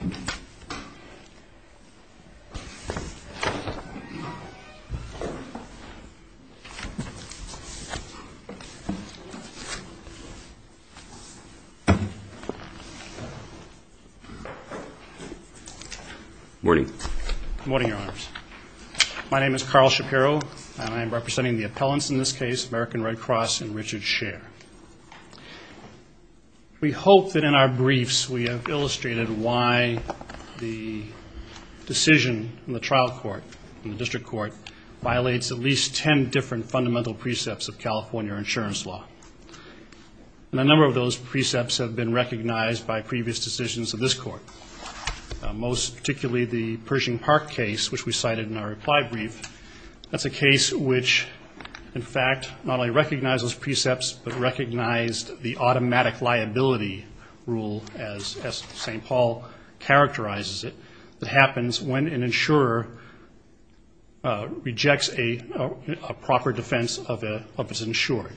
Good morning, your honors. My name is Carl Shapiro, and I am representing the appellants in this case, American Red Cross and Richard Scheer. We hope that in our briefs we have illustrated why the decision in the trial court, in the district court, violates at least ten different fundamental precepts of California insurance law. And a number of those precepts have been recognized by previous decisions of this court, most particularly the Pershing Park case, which we cited in our reply brief. That's a case which, in fact, not only recognized those precepts, but recognized the automatic liability rule, as St. Paul characterizes it, that happens when an insurer rejects a proper defense of his insured.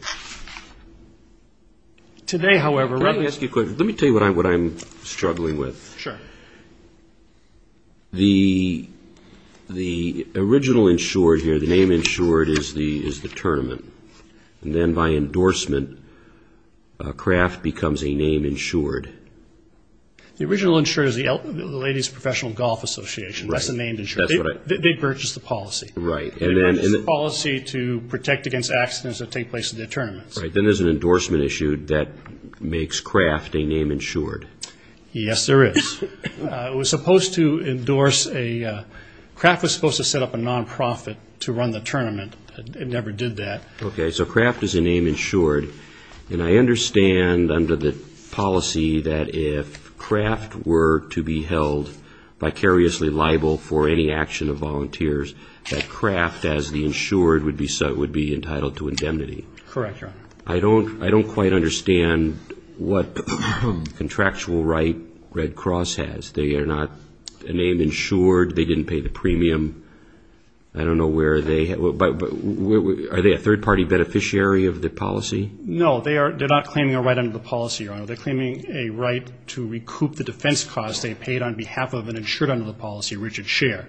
Today, however, let me ask you a question. Let me tell you what I'm struggling with. The original insured here, the name insured, is the tournament. And then by endorsement, Kraft becomes a name insured. The original insured is the Ladies Professional Golf Association. That's the name insured. They purchased the policy. Right. And then... They purchased the policy to protect against accidents that take place in their tournaments. Right. Then there's an endorsement issue that makes Kraft a name insured. Yes, there is. It was supposed to endorse a... to run the tournament. It never did that. Okay. So Kraft is a name insured. And I understand under the policy that if Kraft were to be held vicariously liable for any action of volunteers, that Kraft, as the insured, would be entitled to indemnity. Correct, Your Honor. I don't quite understand what contractual right Red Cross has. They are not a name insured. They didn't pay the premium. I don't know where they... Are they a third-party beneficiary of the policy? No, they are not claiming a right under the policy, Your Honor. They're claiming a right to recoup the defense costs they paid on behalf of an insured under the policy, Richard Scher.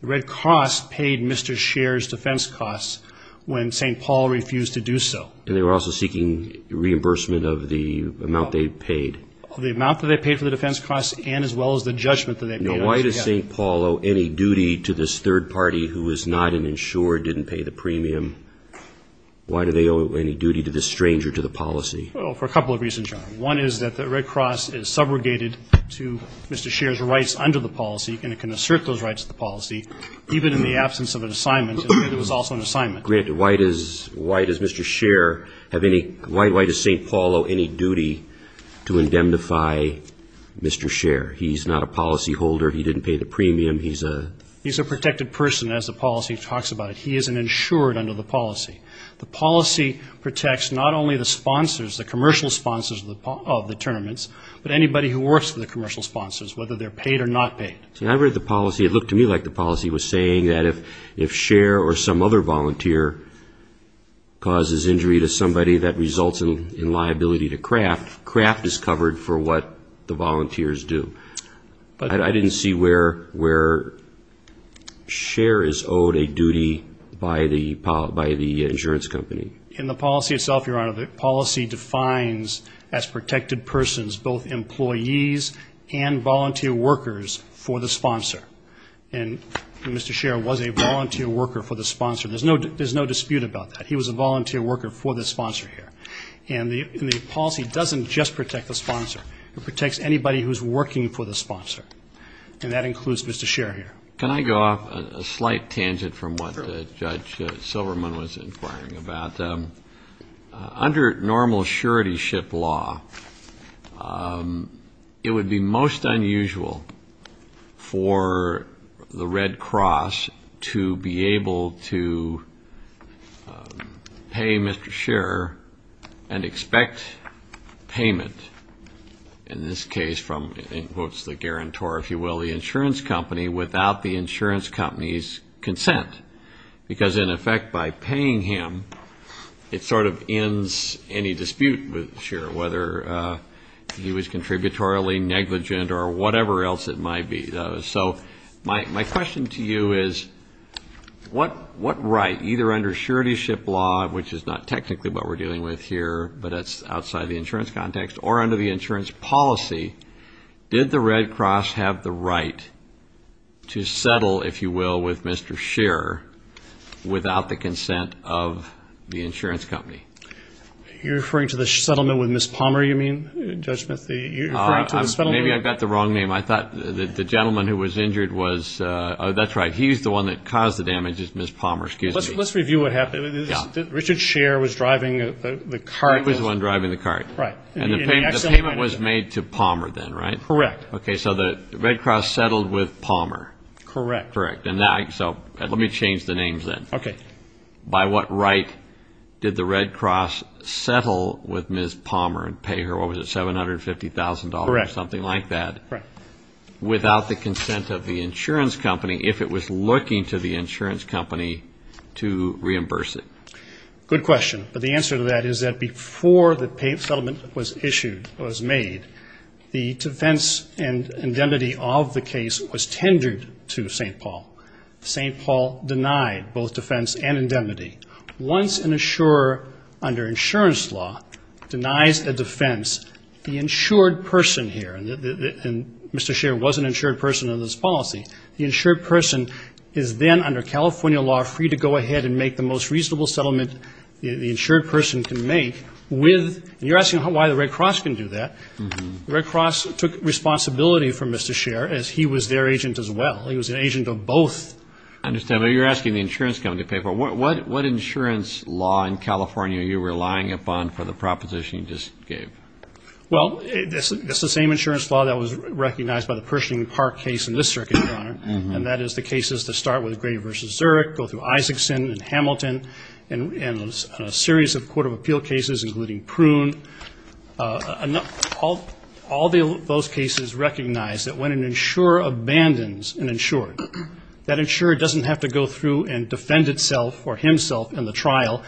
Red Cross paid Mr. Scher's defense costs when St. Paul refused to do so. And they were also seeking reimbursement of the amount they paid. The amount that they owe any duty to this third-party who is not an insured, didn't pay the premium? Why do they owe any duty to this stranger to the policy? Well, for a couple of reasons, Your Honor. One is that the Red Cross is subrogated to Mr. Scher's rights under the policy, and it can assert those rights to the policy, even in the absence of an assignment, even if it was also an assignment. Granted, why does Mr. Scher have any... Why does St. Paul owe any duty to indemnify Mr. Scher? He's not a policyholder. He didn't pay the premium. He's a... He's a protected person, as the policy talks about it. He is an insured under the policy. The policy protects not only the sponsors, the commercial sponsors of the tournaments, but anybody who works for the commercial sponsors, whether they're paid or not paid. When I read the policy, it looked to me like the policy was saying that if Scher or some other volunteer causes injury to somebody that results in liability to Kraft, Kraft is covered for what the volunteers do. I didn't see where Scher is owed a duty by the insurance company. In the policy itself, Your Honor, the policy defines as protected persons both employees and volunteer workers for the sponsor. And Mr. Scher was a volunteer worker for the sponsor. There's no dispute about that. He was a volunteer worker for the sponsor here. And the policy doesn't just protect the sponsor. It protects anybody who's working for the sponsor. And that includes Mr. Scher here. Can I go off a slight tangent from what Judge Silverman was inquiring about? Under normal surety ship law, it would be most unusual for the Red Cross to be able to pay Mr. Scher and expect payment, in this case from, in quotes, the guarantor, if you will, the insurance company without the insurance company's consent. Because in effect, by paying him, it sort of ends any dispute with Scher, whether he was contributorily negligent or whatever else it might be. So my question to you is, what right, either under surety ship law, which is not technically what we're dealing with here, but it's outside the insurance context, or under the insurance policy, did the Red Cross have the right to settle, if you will, with Mr. Scher without the consent of the insurance company? You're referring to the settlement with Ms. Palmer, you mean, Judge Smith? Maybe I've got the wrong name. I thought the gentleman who was injured was, oh, that's right. He's the one that caused the damage, is Ms. Palmer. Excuse me. Let's review what happened. Richard Scher was driving the cart. He was the one driving the cart. Right. And the payment was made to Palmer then, right? Correct. Okay. So the Red Cross settled with Palmer. Correct. Correct. And so let me change the names then. Okay. By what right did the Red Cross settle with Ms. Palmer and pay her, what was it, $750,000 or something like that, without the consent of the insurance company, if it was looking to the insurance company to reimburse it? Good question. But the answer to that is that before the settlement was issued, was made, the defense and indemnity of the case was tendered to St. Paul. St. Paul denied both defense and indemnity. Once an insurer, under insurance law, denies a defense, the insured person here, and Mr. Scher was an insured person in this policy, the insured person is then, under California law, free to go ahead and make the most reasonable settlement the insured person can make with, and you're asking why the Red Cross can do that. The Red Cross took responsibility for Mr. Scher, as he was their agent as well. He was an agent of both. I understand. But you're asking the insurance company to pay for it. What insurance law in California are you relying upon for the proposition you just gave? Well, it's the same insurance law that was recognized by the Pershing Park case in this to start with Gray v. Zurich, go through Isaacson and Hamilton, and a series of court of appeal cases including Prune. All those cases recognize that when an insurer abandons an insured, that insured doesn't have to go through and defend itself or himself in the trial.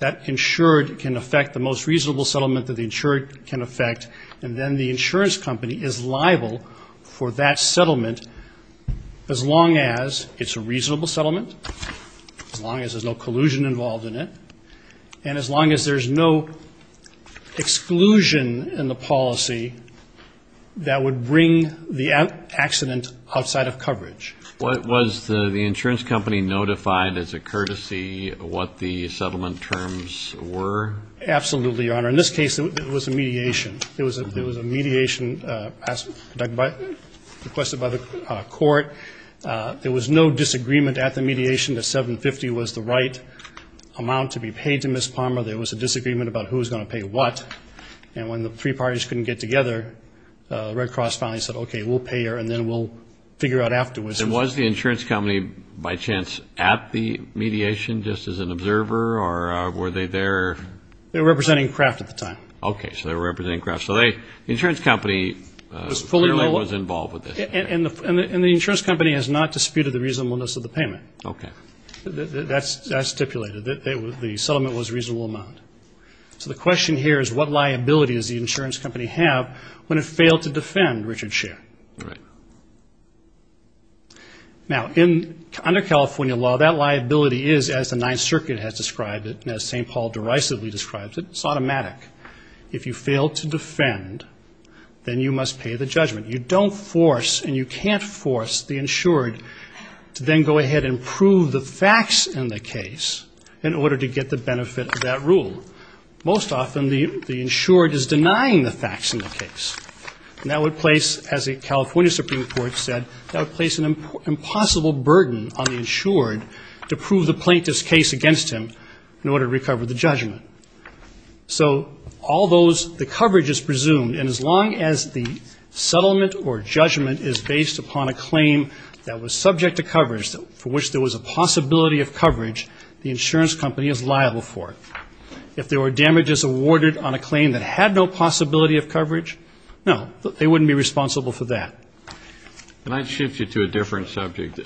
That insured can affect the most reasonable settlement that the insured can affect, and then the reasonable settlement, as long as there's no collusion involved in it, and as long as there's no exclusion in the policy that would bring the accident outside of coverage. Was the insurance company notified as a courtesy what the settlement terms were? Absolutely, Your Honor. In this case, it was a mediation. It was a mediation requested by the court. There was no disagreement at the mediation that $750 was the right amount to be paid to Ms. Palmer. There was a disagreement about who was going to pay what. And when the three parties couldn't get together, the Red Cross finally said, okay, we'll pay her and then we'll figure out afterwards. And was the insurance company, by chance, at the mediation just as an observer, or were they there? They were representing Kraft at the time. Okay, so they were representing Kraft. So the insurance company clearly was involved with this. And the insurance company has not disputed the reasonableness of the payment. Okay. That's stipulated. The settlement was a reasonable amount. So the question here is, what liability does the insurance company have when it failed to defend Richard Scherr? Right. Now, under California law, that liability is, as the Ninth Circuit has described it, as St. Paul derisively describes it, it's automatic. If you fail to defend, then you don't force and you can't force the insured to then go ahead and prove the facts in the case in order to get the benefit of that rule. Most often, the insured is denying the facts in the case. And that would place, as the California Supreme Court said, that would place an impossible burden on the insured to prove the plaintiff's case against him in order to recover the judgment. So all those, the coverage is presumed. And as long as the settlement or judgment is based upon a claim that was subject to coverage for which there was a possibility of coverage, the insurance company is liable for it. If there were damages awarded on a claim that had no possibility of coverage, no, they wouldn't be responsible for that. Can I shift you to a different subject?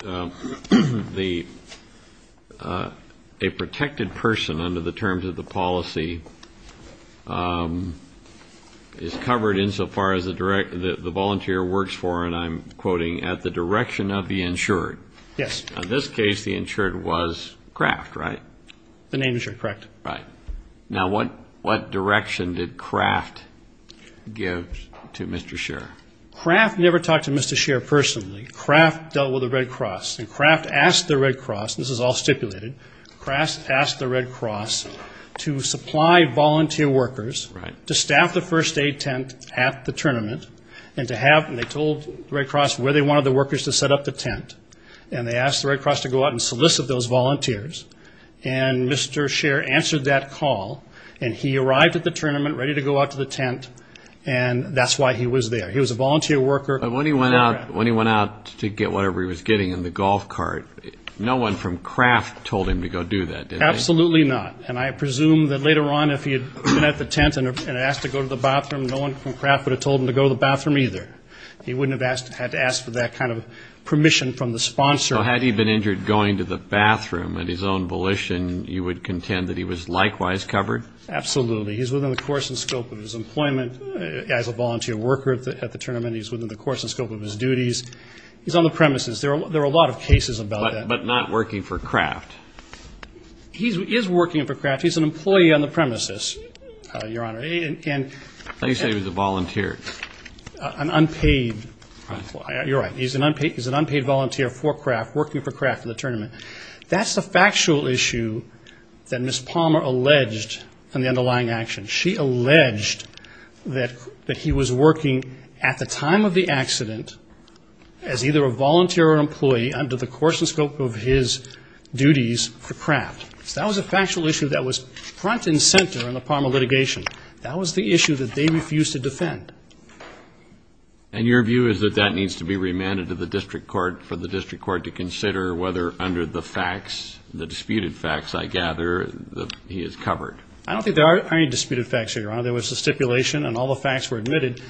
A protected person, under the terms of the policy, is covered insofar as the volunteer works for, and I'm quoting, at the direction of the insured. Yes. In this case, the insured was Kraft, right? The name is correct. Right. Now, what direction did Kraft give to Mr. Scherer? Kraft never talked to Mr. Scherer personally. Kraft dealt with the Red Cross, and Kraft asked the Red Cross, this is all stipulated, Kraft asked the Red Cross to supply volunteer workers to staff the first aid tent at the tournament, and to have, and they told the Red Cross where they wanted the workers to set up the tent. And they asked the Red Cross to go out and solicit those volunteers. And Mr. Scherer answered that call, and he arrived at the tournament ready to go out to the tent, and that's why he was there. He was a volunteer worker. But when he went out to get whatever he was getting in the golf cart, no one from Kraft told him to go do that, did they? Absolutely not. And I presume that later on, if he had been at the tent and asked to go to the bathroom, no one from Kraft would have told him to go to the bathroom either. He wouldn't have had to ask for that kind of permission from the sponsor. So had he been injured going to the bathroom at his own volition, you would contend that he was likewise covered? Absolutely. He's within the course and scope of his employment as a volunteer worker at the tournament. He's within the course and scope of his duties. He's on the premises. There are a lot of cases about that. But not working for Kraft? He is working for Kraft. He's an employee on the premises, Your Honor. How do you say he was a volunteer? An unpaid. Right. You're right. He's an unpaid volunteer for Kraft, working for Kraft for the tournament. That's the factual issue that Ms. Palmer alleged in the underlying action. She alleged that he was working at the time of the accident as either a volunteer or an employee under the course and scope of his duties for Kraft. So that was a factual issue that was front and center in the Palmer litigation. That was the issue that they refused to defend. And your view is that that needs to be remanded to the district court for the district court to consider whether under the facts, the disputed facts, I gather, that he is covered. I don't think there are any disputed facts here, Your Honor. There was a stipulation and all the facts were admitted.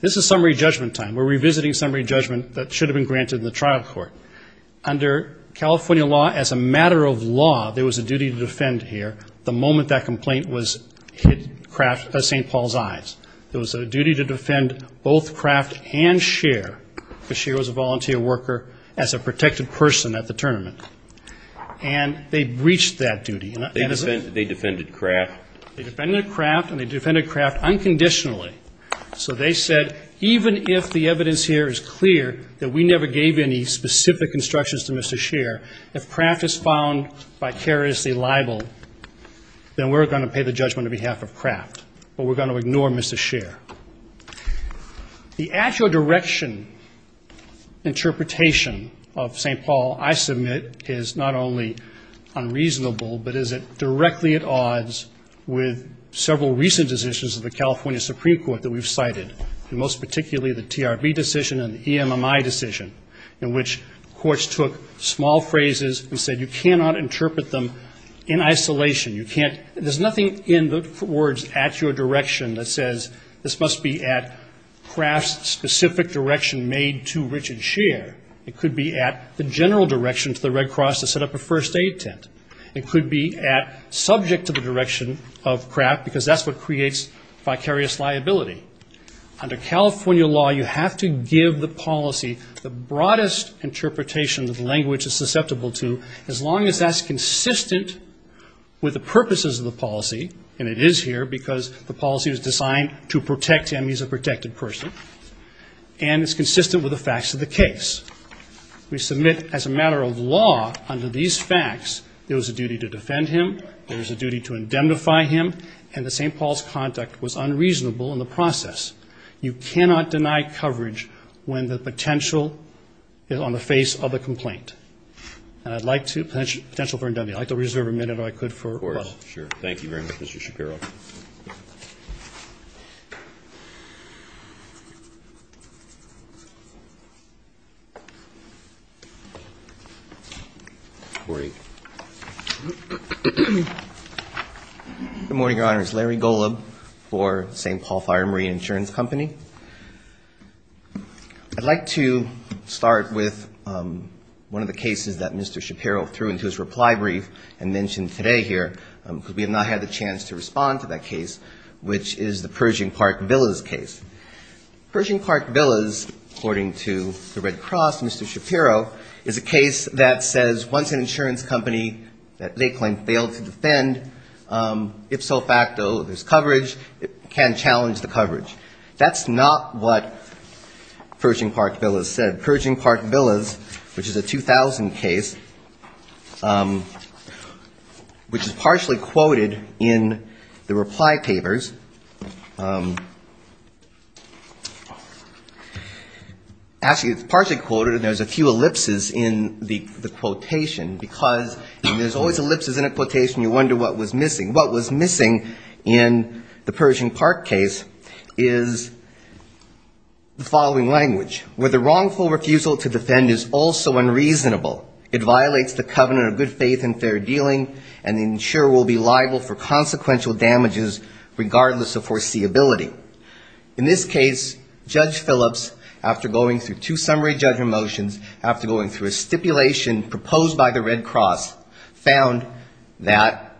This is summary judgment time. We're revisiting summary judgment that should have been granted in the trial court. Under California law, as a matter of law, there was a duty to defend here the moment that complaint hit St. Paul's eyes. There was a duty to defend both Kraft and Scheer because Scheer was a volunteer worker as a protected person at the tournament. And they breached that duty. They defended Kraft. They defended Kraft and they defended Kraft unconditionally. So they said even if the evidence here is clear that we never gave any specific instructions to Mr. Scheer, if Kraft is found vicariously liable, then we're going to pay the judgment on behalf of Kraft. But we're going to ignore Mr. Scheer. The actual direction interpretation of St. Paul, I submit, is not only unreasonable, but is it directly at odds with several recent decisions of the California Supreme Court that we've cited, and most particularly the TRB decision and the EMMI decision in which courts took small phrases and said you cannot interpret them in isolation. You can't, there's nothing in the words at your direction that says this must be at Kraft's specific direction made to Richard Scheer. It could be at the general direction to the Red Cross to set up a first aid tent. It could be at subject to the direction of Kraft because that's what creates vicarious liability. Under California law, you have to give the policy the broadest interpretation that the language is susceptible to as long as that's consistent with the purposes of the policy, and it is here because the policy was designed to protect EMMI as a protected person, and it's consistent with the facts of the case. We submit as a matter of law under these facts there was a duty to defend him, there was a duty to indemnify him, and that St. Paul's conduct was unreasonable in the process. You cannot deny coverage when the potential is on the face of a complaint. And I'd like to, potential for indemnity, I'd like to reserve a minute if I could for questions. Of course, sure. Thank you very much, Mr. Shapiro. Great. Good morning, Your Honors. Larry Golub for St. Paul Fire and Marine Insurance Company. I'd like to start with one of the cases that Mr. Shapiro threw into his reply brief and mentioned today here because we have not had the chance to respond to that case, which is the Pershing Park Villas case. Pershing Park Villas, according to the Red Cross, Mr. Shapiro, is a case that says once an insurance company that they claim failed to defend, if so facto there's coverage, it can challenge the coverage. That's not what Pershing Park Villas said. Pershing Park Villas, which is a 2000 case, which is partially quoted in the reply papers, actually it's partially quoted and there's a few ellipses in the quotation because there's always ellipses in a quotation, you wonder what was missing. What was missing in the Pershing Park case is the following language. Where the wrongful refusal to defend is also unreasonable. It violates the covenant of good faith and fair dealing and the insurer will be liable for consequential damages regardless of foreseeability. In this case, Judge Phillips, after going through two summary judgment motions, after going through a stipulation proposed by the Red Cross, found that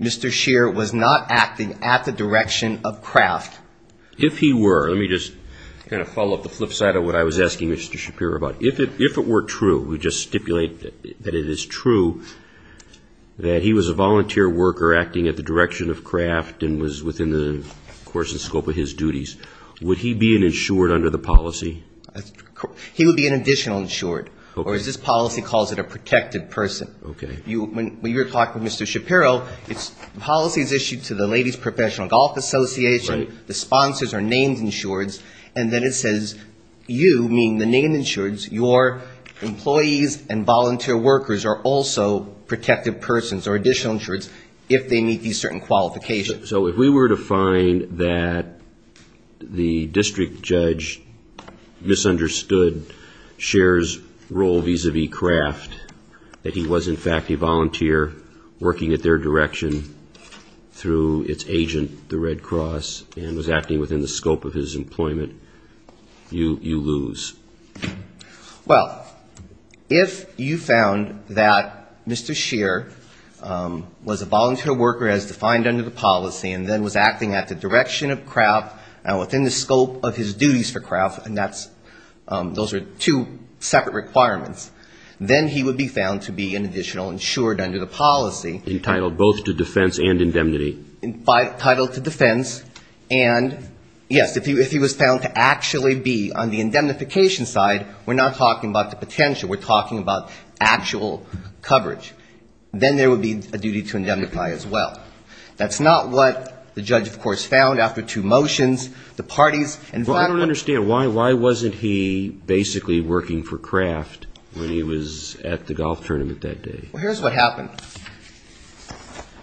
Mr. Scheer was not acting at the direction of craft. If he were, let me just kind of follow up the flip side of what I was asking Mr. Shapiro about. If it were true, we just stipulate that it is true, that he was a volunteer worker acting at the direction of craft and was within the course and scope of his duties, would he be an insured under the policy? He would be an additional insured, or as this policy calls it, a protected person. When you're talking to Mr. Shapiro, the policy is issued to the Ladies Professional Golf Association, the sponsors are named insureds, and then it says you, meaning the named insureds, your employees and volunteer workers are also protected persons or additional insureds if they meet these certain qualifications. So if we were to find that the district judge misunderstood Scheer's role vis-a-vis craft, that he was in fact a volunteer working at their direction through its agent, the Red Cross, and was acting within the scope of his employment, you lose. Well, if you found that Mr. Scheer was a volunteer worker as defined under the policy and then was acting at the direction of craft and within the scope of his duties for craft, and those are two separate requirements, then he would be found to be an additional insured under the policy. Entitled both to defense and indemnity. Entitled to defense, and yes, if he was found to actually be on the indemnification side, we're not talking about the potential. We're talking about actual coverage. Then there would be a duty to indemnify as well. That's not what the judge, of course, found after two motions. Well, I don't understand, why wasn't he basically working for craft when he was at the golf tournament that day? Well, here's what happened.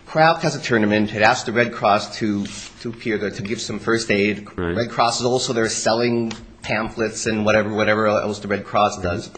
Craft has a tournament, it asks the Red Cross to give some first aid. Red Cross is also there selling pamphlets and whatever else the Red Cross does,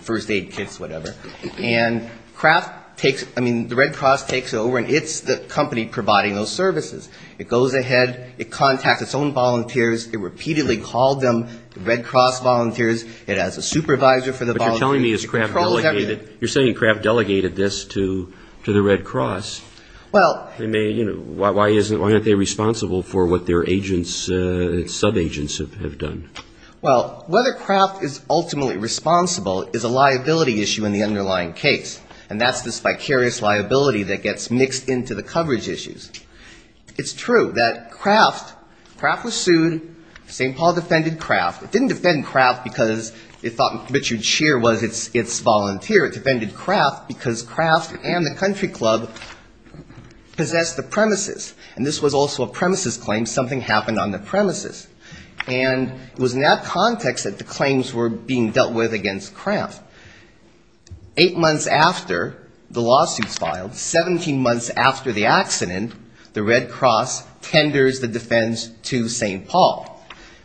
first aid kits, whatever. And craft takes, I mean, the Red Cross takes it over and it's the company providing those services. It goes ahead, it contacts its own volunteers, it repeatedly called them, the Red Cross volunteers. It has a supervisor for the volunteers. You're saying craft delegated this to the Red Cross. Why aren't they responsible for what their agents, sub-agents have done? Well, whether craft is ultimately responsible is a liability issue in the underlying case. And that's this vicarious liability that gets mixed into the coverage issues. It's true that craft, craft was sued, St. Paul defended craft. It didn't defend craft because it thought Richard Scheer was its volunteer. It defended craft because craft and the country club possessed the premises. And this was also a premises claim, something happened on the premises. And it was in that context that the claims were being dealt with against craft. Eight months after the lawsuits filed, 17 months after the accident, the Red Cross tenders the defense to St. Paul.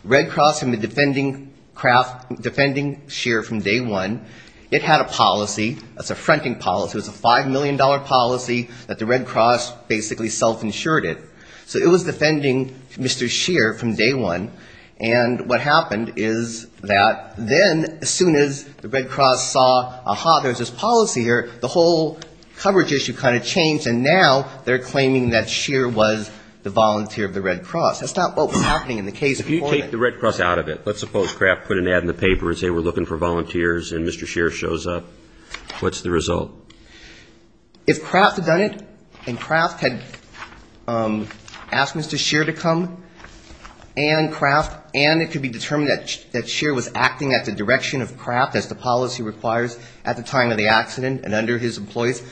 Red Cross had been defending craft, defending Scheer from day one. It had a policy, a fronting policy, a $5 million policy that the Red Cross basically self-insured it. So it was defending Mr. Scheer from day one. And what happened is that then as soon as the Red Cross saw, aha, there's this policy here, the whole coverage issue kind of changed. And now they're claiming that Scheer was the volunteer of the Red Cross. That's not what was happening in the case. If you take the Red Cross out of it, let's suppose craft put an ad in the paper and say we're looking for volunteers and Mr. Scheer shows up, what's the result? If craft had done it and craft had asked Mr. Scheer to come and craft and it could be determined that Scheer was acting at the direction of craft as the policy requires at the time of the accident and under his employees,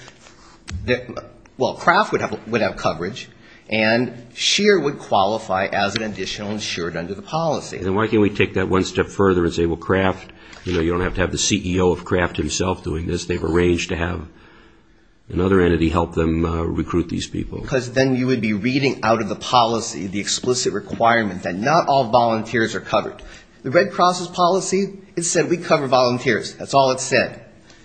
well, craft would have coverage and Scheer would qualify as an additional insured under the policy. And why can't we take that one step further and say, well, craft, you know, you don't have to have the CEO of craft himself doing this. They've arranged to have another entity help them recruit these people. Because then you would be reading out of the policy the explicit requirement that not all volunteers are covered. The Red Cross's policy, it said we cover volunteers. That's all it said.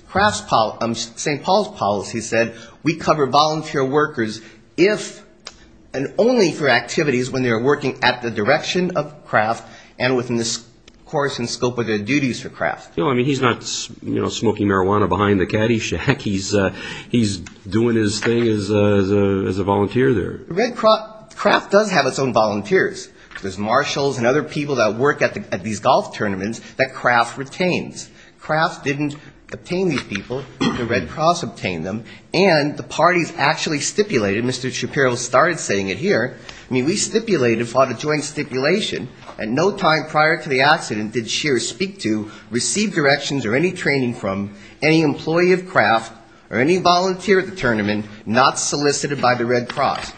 Craft's policy, St. Paul's policy said we cover volunteer workers if and only for activities when they're working at the direction of craft and within the course and scope of their duties for craft. He's not smoking marijuana behind the caddy shack. He's doing his thing as a volunteer there. The Red Cross, craft does have its own volunteers. There's marshals and other people that work at these golf tournaments that craft retains. Craft didn't obtain these people. The Red Cross obtained them. And the parties actually stipulated, Mr. Shapiro started saying it here, I mean, we stipulated, fought a joint stipulation, at no time prior to the accident did Scheer speak to, receive directions or any training from any employee of craft or any volunteer at the tournament not solicited by the Red Cross.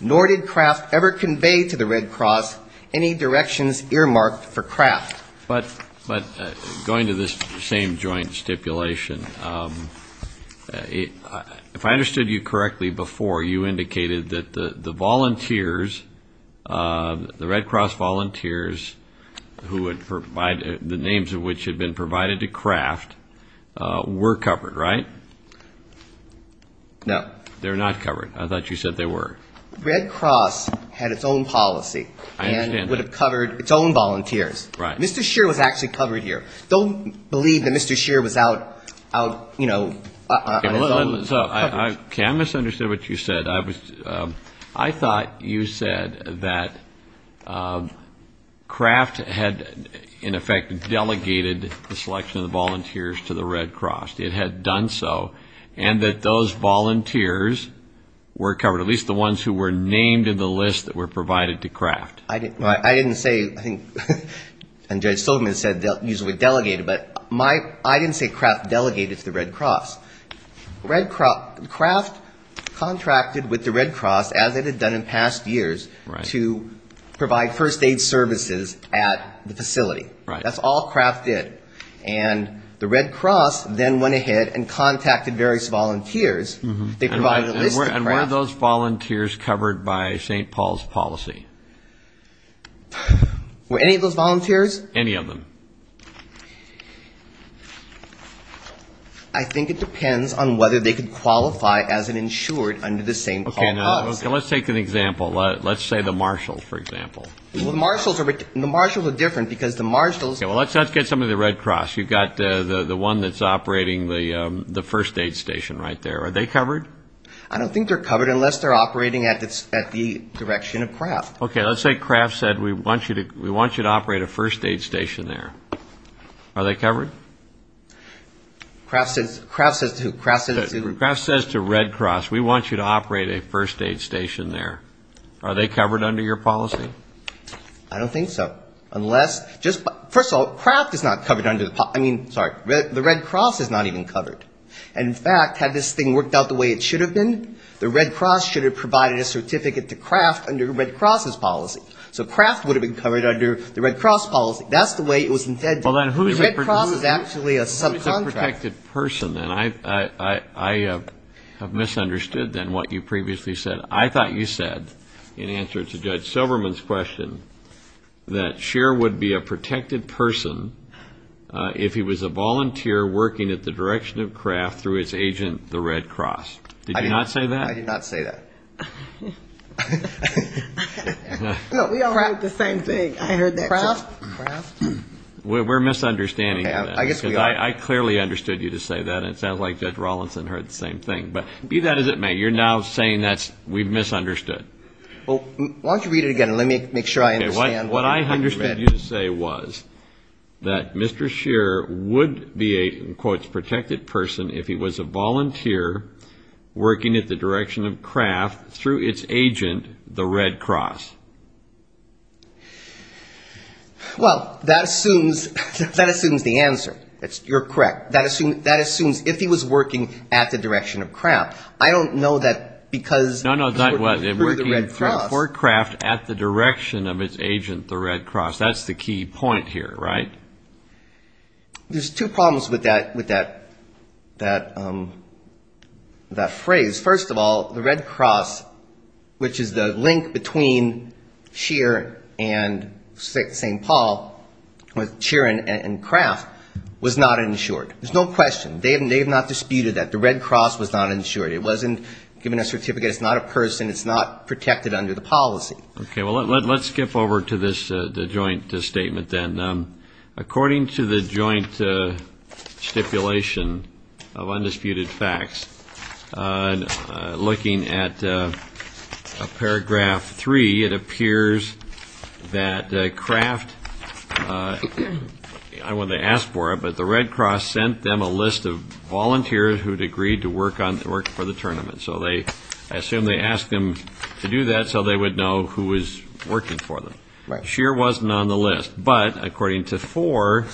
Nor did craft ever convey to the Red Cross any directions earmarked for craft. But going to this same joint stipulation, if I understood you correctly before, you indicated that the volunteers, the Red Cross volunteers who had provided, the names of which had been provided to craft, were covered, right? No. They were not covered. I thought you said they were. The Red Cross had its own policy and would have covered its own volunteers. Mr. Scheer was actually covered here. Don't believe that Mr. Scheer was out, you know, on his own. Okay, I misunderstood what you said. I thought you said that craft had, in effect, delegated the selection of the volunteers to the Red Cross. It had done so, and that those volunteers were covered, at least the ones who were named in the list that were provided to craft. I didn't say, I think Judge Stillman said usually delegated, but I didn't say craft delegated to the Red Cross. Craft contracted with the Red Cross, as it had done in past years, to provide first aid services at the facility. That's all craft did. And the Red Cross then went ahead and contacted various volunteers. And were those volunteers covered by St. Paul's policy? Were any of those volunteers? Any of them. I think it depends on whether they could qualify as an insured under the same policy. Okay, now, let's take an example. Let's say the marshals, for example. The marshals are different, because the marshals... Okay, well, let's get some of the Red Cross. You've got the one that's operating the first aid station right there. Are they covered? I don't think they're covered unless they're operating at the direction of craft. Okay, let's say craft said, we want you to operate a first aid station there. Are they covered? Craft says to Red Cross, we want you to operate a first aid station there. Are they covered under your policy? I don't think so. Unless, first of all, craft is not covered under the policy. I mean, sorry, the Red Cross is not even covered. And in fact, had this thing worked out the way it should have been, the Red Cross should have provided a certificate to craft under Red Cross's policy. So craft would have been covered under the Red Cross policy. That's the way it was intended. Well, then who is a protected person? And I have misunderstood then what you previously said. I thought you said, in answer to Judge Silverman's question, that Scheer would be a protected person if he was a volunteer working at the direction of craft through his agent, the Red Cross. Did you not say that? I did not say that. No, we all heard the same thing. I heard that too. Craft? We're misunderstanding that. I clearly understood you to say that. And it sounds like Judge Rawlinson heard the same thing. But be that as it may, you're now saying that we've misunderstood. Well, why don't you read it again and let me make sure I understand. What I understood you to say was that Mr. Scheer would be a, in quotes, protected person if he was a volunteer working at the direction of craft through his agent, the Red Cross. Well, that assumes the answer. You're correct. That assumes if he was working at the direction of craft. I don't know that because... Well, he was working for craft at the direction of his agent, the Red Cross. That's the key point here, right? There's two problems with that phrase. First of all, the Red Cross, which is the link between Scheer and St. Paul, Scheer and Craft, was not insured. There's no question. They have not disputed that. The Red Cross was not insured. It wasn't given a certificate. It's not a person. It's not protected under the policy. Okay. Well, let's skip over to the joint statement then. According to the joint stipulation of undisputed facts, looking at paragraph three, it appears that craft, I wouldn't have asked for it, but the Red Cross sent them a list of volunteers who had agreed to work for them. I assume they asked them to do that so they would know who was working for them. Scheer wasn't on the list. But according to four,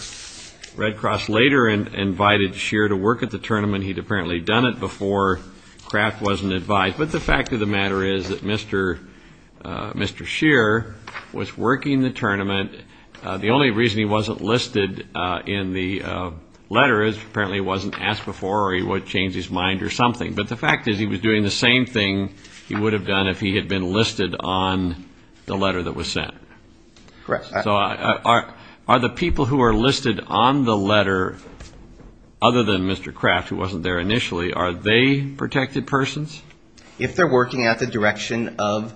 Red Cross later invited Scheer to work at the tournament. He'd apparently done it before. Craft wasn't advised. But the fact of the matter is that Mr. Scheer was working the tournament. The only reason he wasn't listed in the letter is apparently he wasn't asked before or he would change his mind or something. The fact is he was doing the same thing he would have done if he had been listed on the letter that was sent. So are the people who are listed on the letter, other than Mr. Craft, who wasn't there initially, are they protected persons? If they're working at the direction of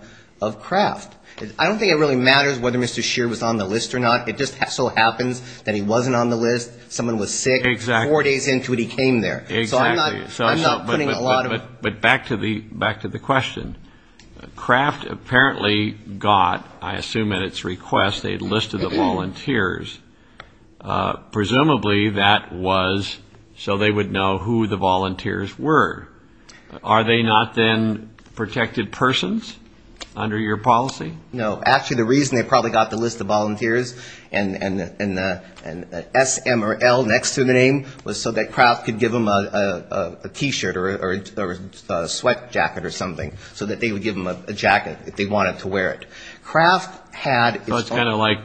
Craft. I don't think it really matters whether Mr. Scheer was on the list or not. It just so happens that he wasn't on the list, someone was sick, four days into it he came there. So I'm not putting a lot of... But back to the question. Craft apparently got, I assume at its request, a list of the volunteers. Presumably that was so they would know who the volunteers were. Are they not then protected persons under your policy? No, actually the reason they probably got the list of volunteers and an S, M or L next to the name was so that Craft could give them a T-shirt or a sweat jacket or something. So that they would give them a jacket if they wanted to wear it. It's kind of like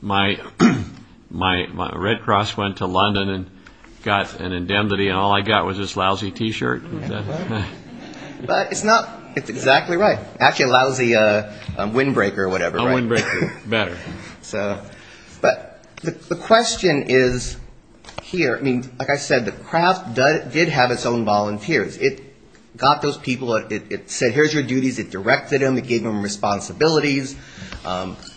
my Red Cross went to London and got an indemnity and all I got was this lousy T-shirt. But it's exactly right. Actually a lousy windbreaker or whatever. But the question is here, like I said, Craft did have its own volunteers. It got those people, it said here's your duties, it directed them, it gave them responsibilities.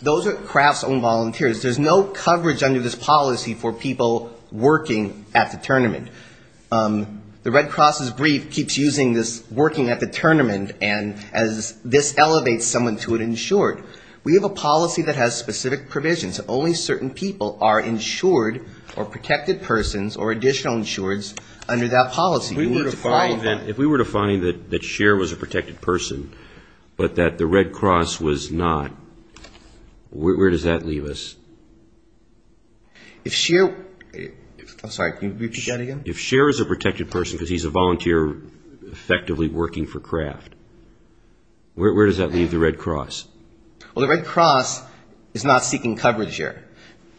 Those are Craft's own volunteers. There's no coverage under this policy for people working at the tournament. The Red Cross's brief keeps using this working at the tournament and this elevates someone to an insured. We have a policy that has specific provisions that only certain people are insured or protected persons or additional insureds under that policy. If we were to find that Scheer was a protected person but that the Red Cross was not, where does that leave us? If Scheer, I'm sorry, can you repeat that again? If Scheer is a protected person because he's a volunteer effectively working for Craft, where does that leave the Red Cross? Well, the Red Cross is not seeking coverage here.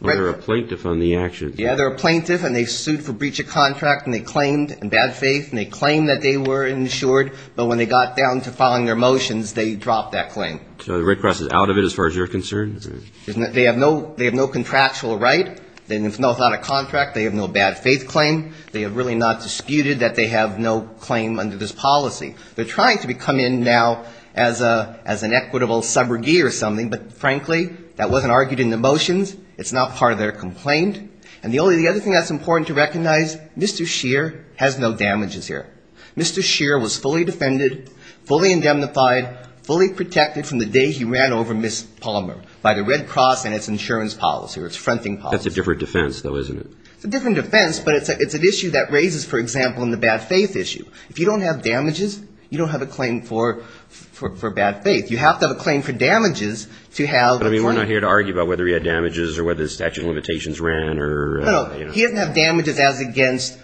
Well, they're a plaintiff on the action. Yeah, they're a plaintiff and they sued for breach of contract and they claimed in bad faith and they claimed that they were insured but when they got down to filing their motions, they dropped that claim. So the Red Cross is out of it as far as you're concerned? They have no contractual right. They have no contract. They have no bad faith claim. They have really not disputed that they have no claim under this policy. They're trying to come in now as an equitable subrogate or something, but frankly, that wasn't argued in the motions. It's not part of their complaint. And the other thing that's important to recognize, Mr. Scheer has no damages here. Mr. Scheer was fully defended, fully indemnified, fully protected from the day he ran over Ms. Palmer by the Red Cross and its insurance policy or its fronting policy. That's a different defense, though, isn't it? It's a different defense, but it's an issue that raises, for example, in the bad faith issue. If you don't have damages, you don't have a claim for bad faith. You have to have a claim for damages to have a fronting policy. I mean, we're not here to argue about whether he had damages or whether his statute of limitations ran or, you know. No, no. He doesn't have damages as against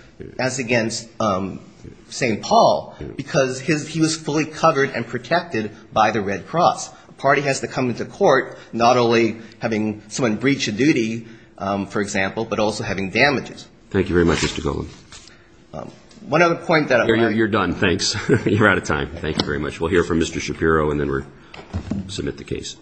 St. Paul because he was fully covered and protected by the Red Cross. A party has to come into court not only having someone breach a duty, for example, but also having damages. Thank you very much, Mr. Goldman. You're done. Thanks. You're out of time. Thank you very much. We'll hear from Mr. Shapiro and then we'll submit the case.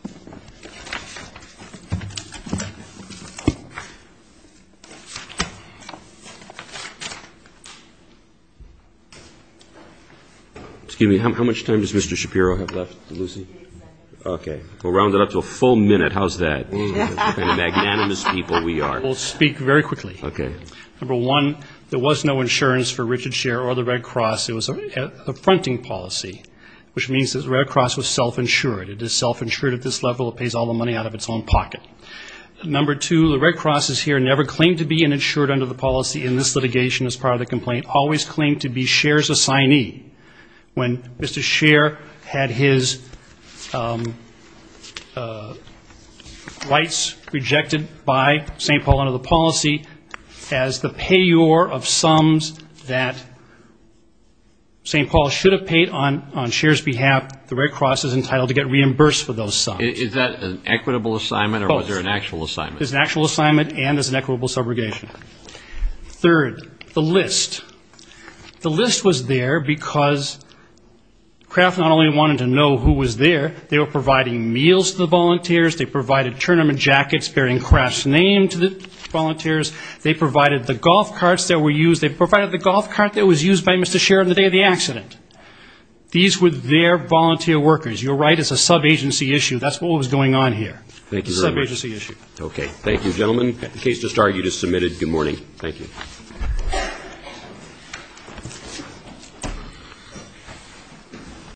Excuse me. How much time does Mr. Shapiro have left, Lucy? Okay. We'll round it up to a full minute. How's that? The kind of magnanimous people we are. The Red Cross is entitled to get reimbursed for those sums. Is that an equitable assignment or was there an actual assignment? Third, the list. The list was there because Kraft not only wanted to know who was there, they were providing meals to the volunteers, they provided tournament jackets bearing Kraft's name to the volunteers, they provided the golf carts that were used, they provided the golf cart that was used by Mr. Shapiro on the day of the accident. These were their volunteer workers. You're right, it's a subagency issue. That's what was going on here. Thank you very much. Subagency issue.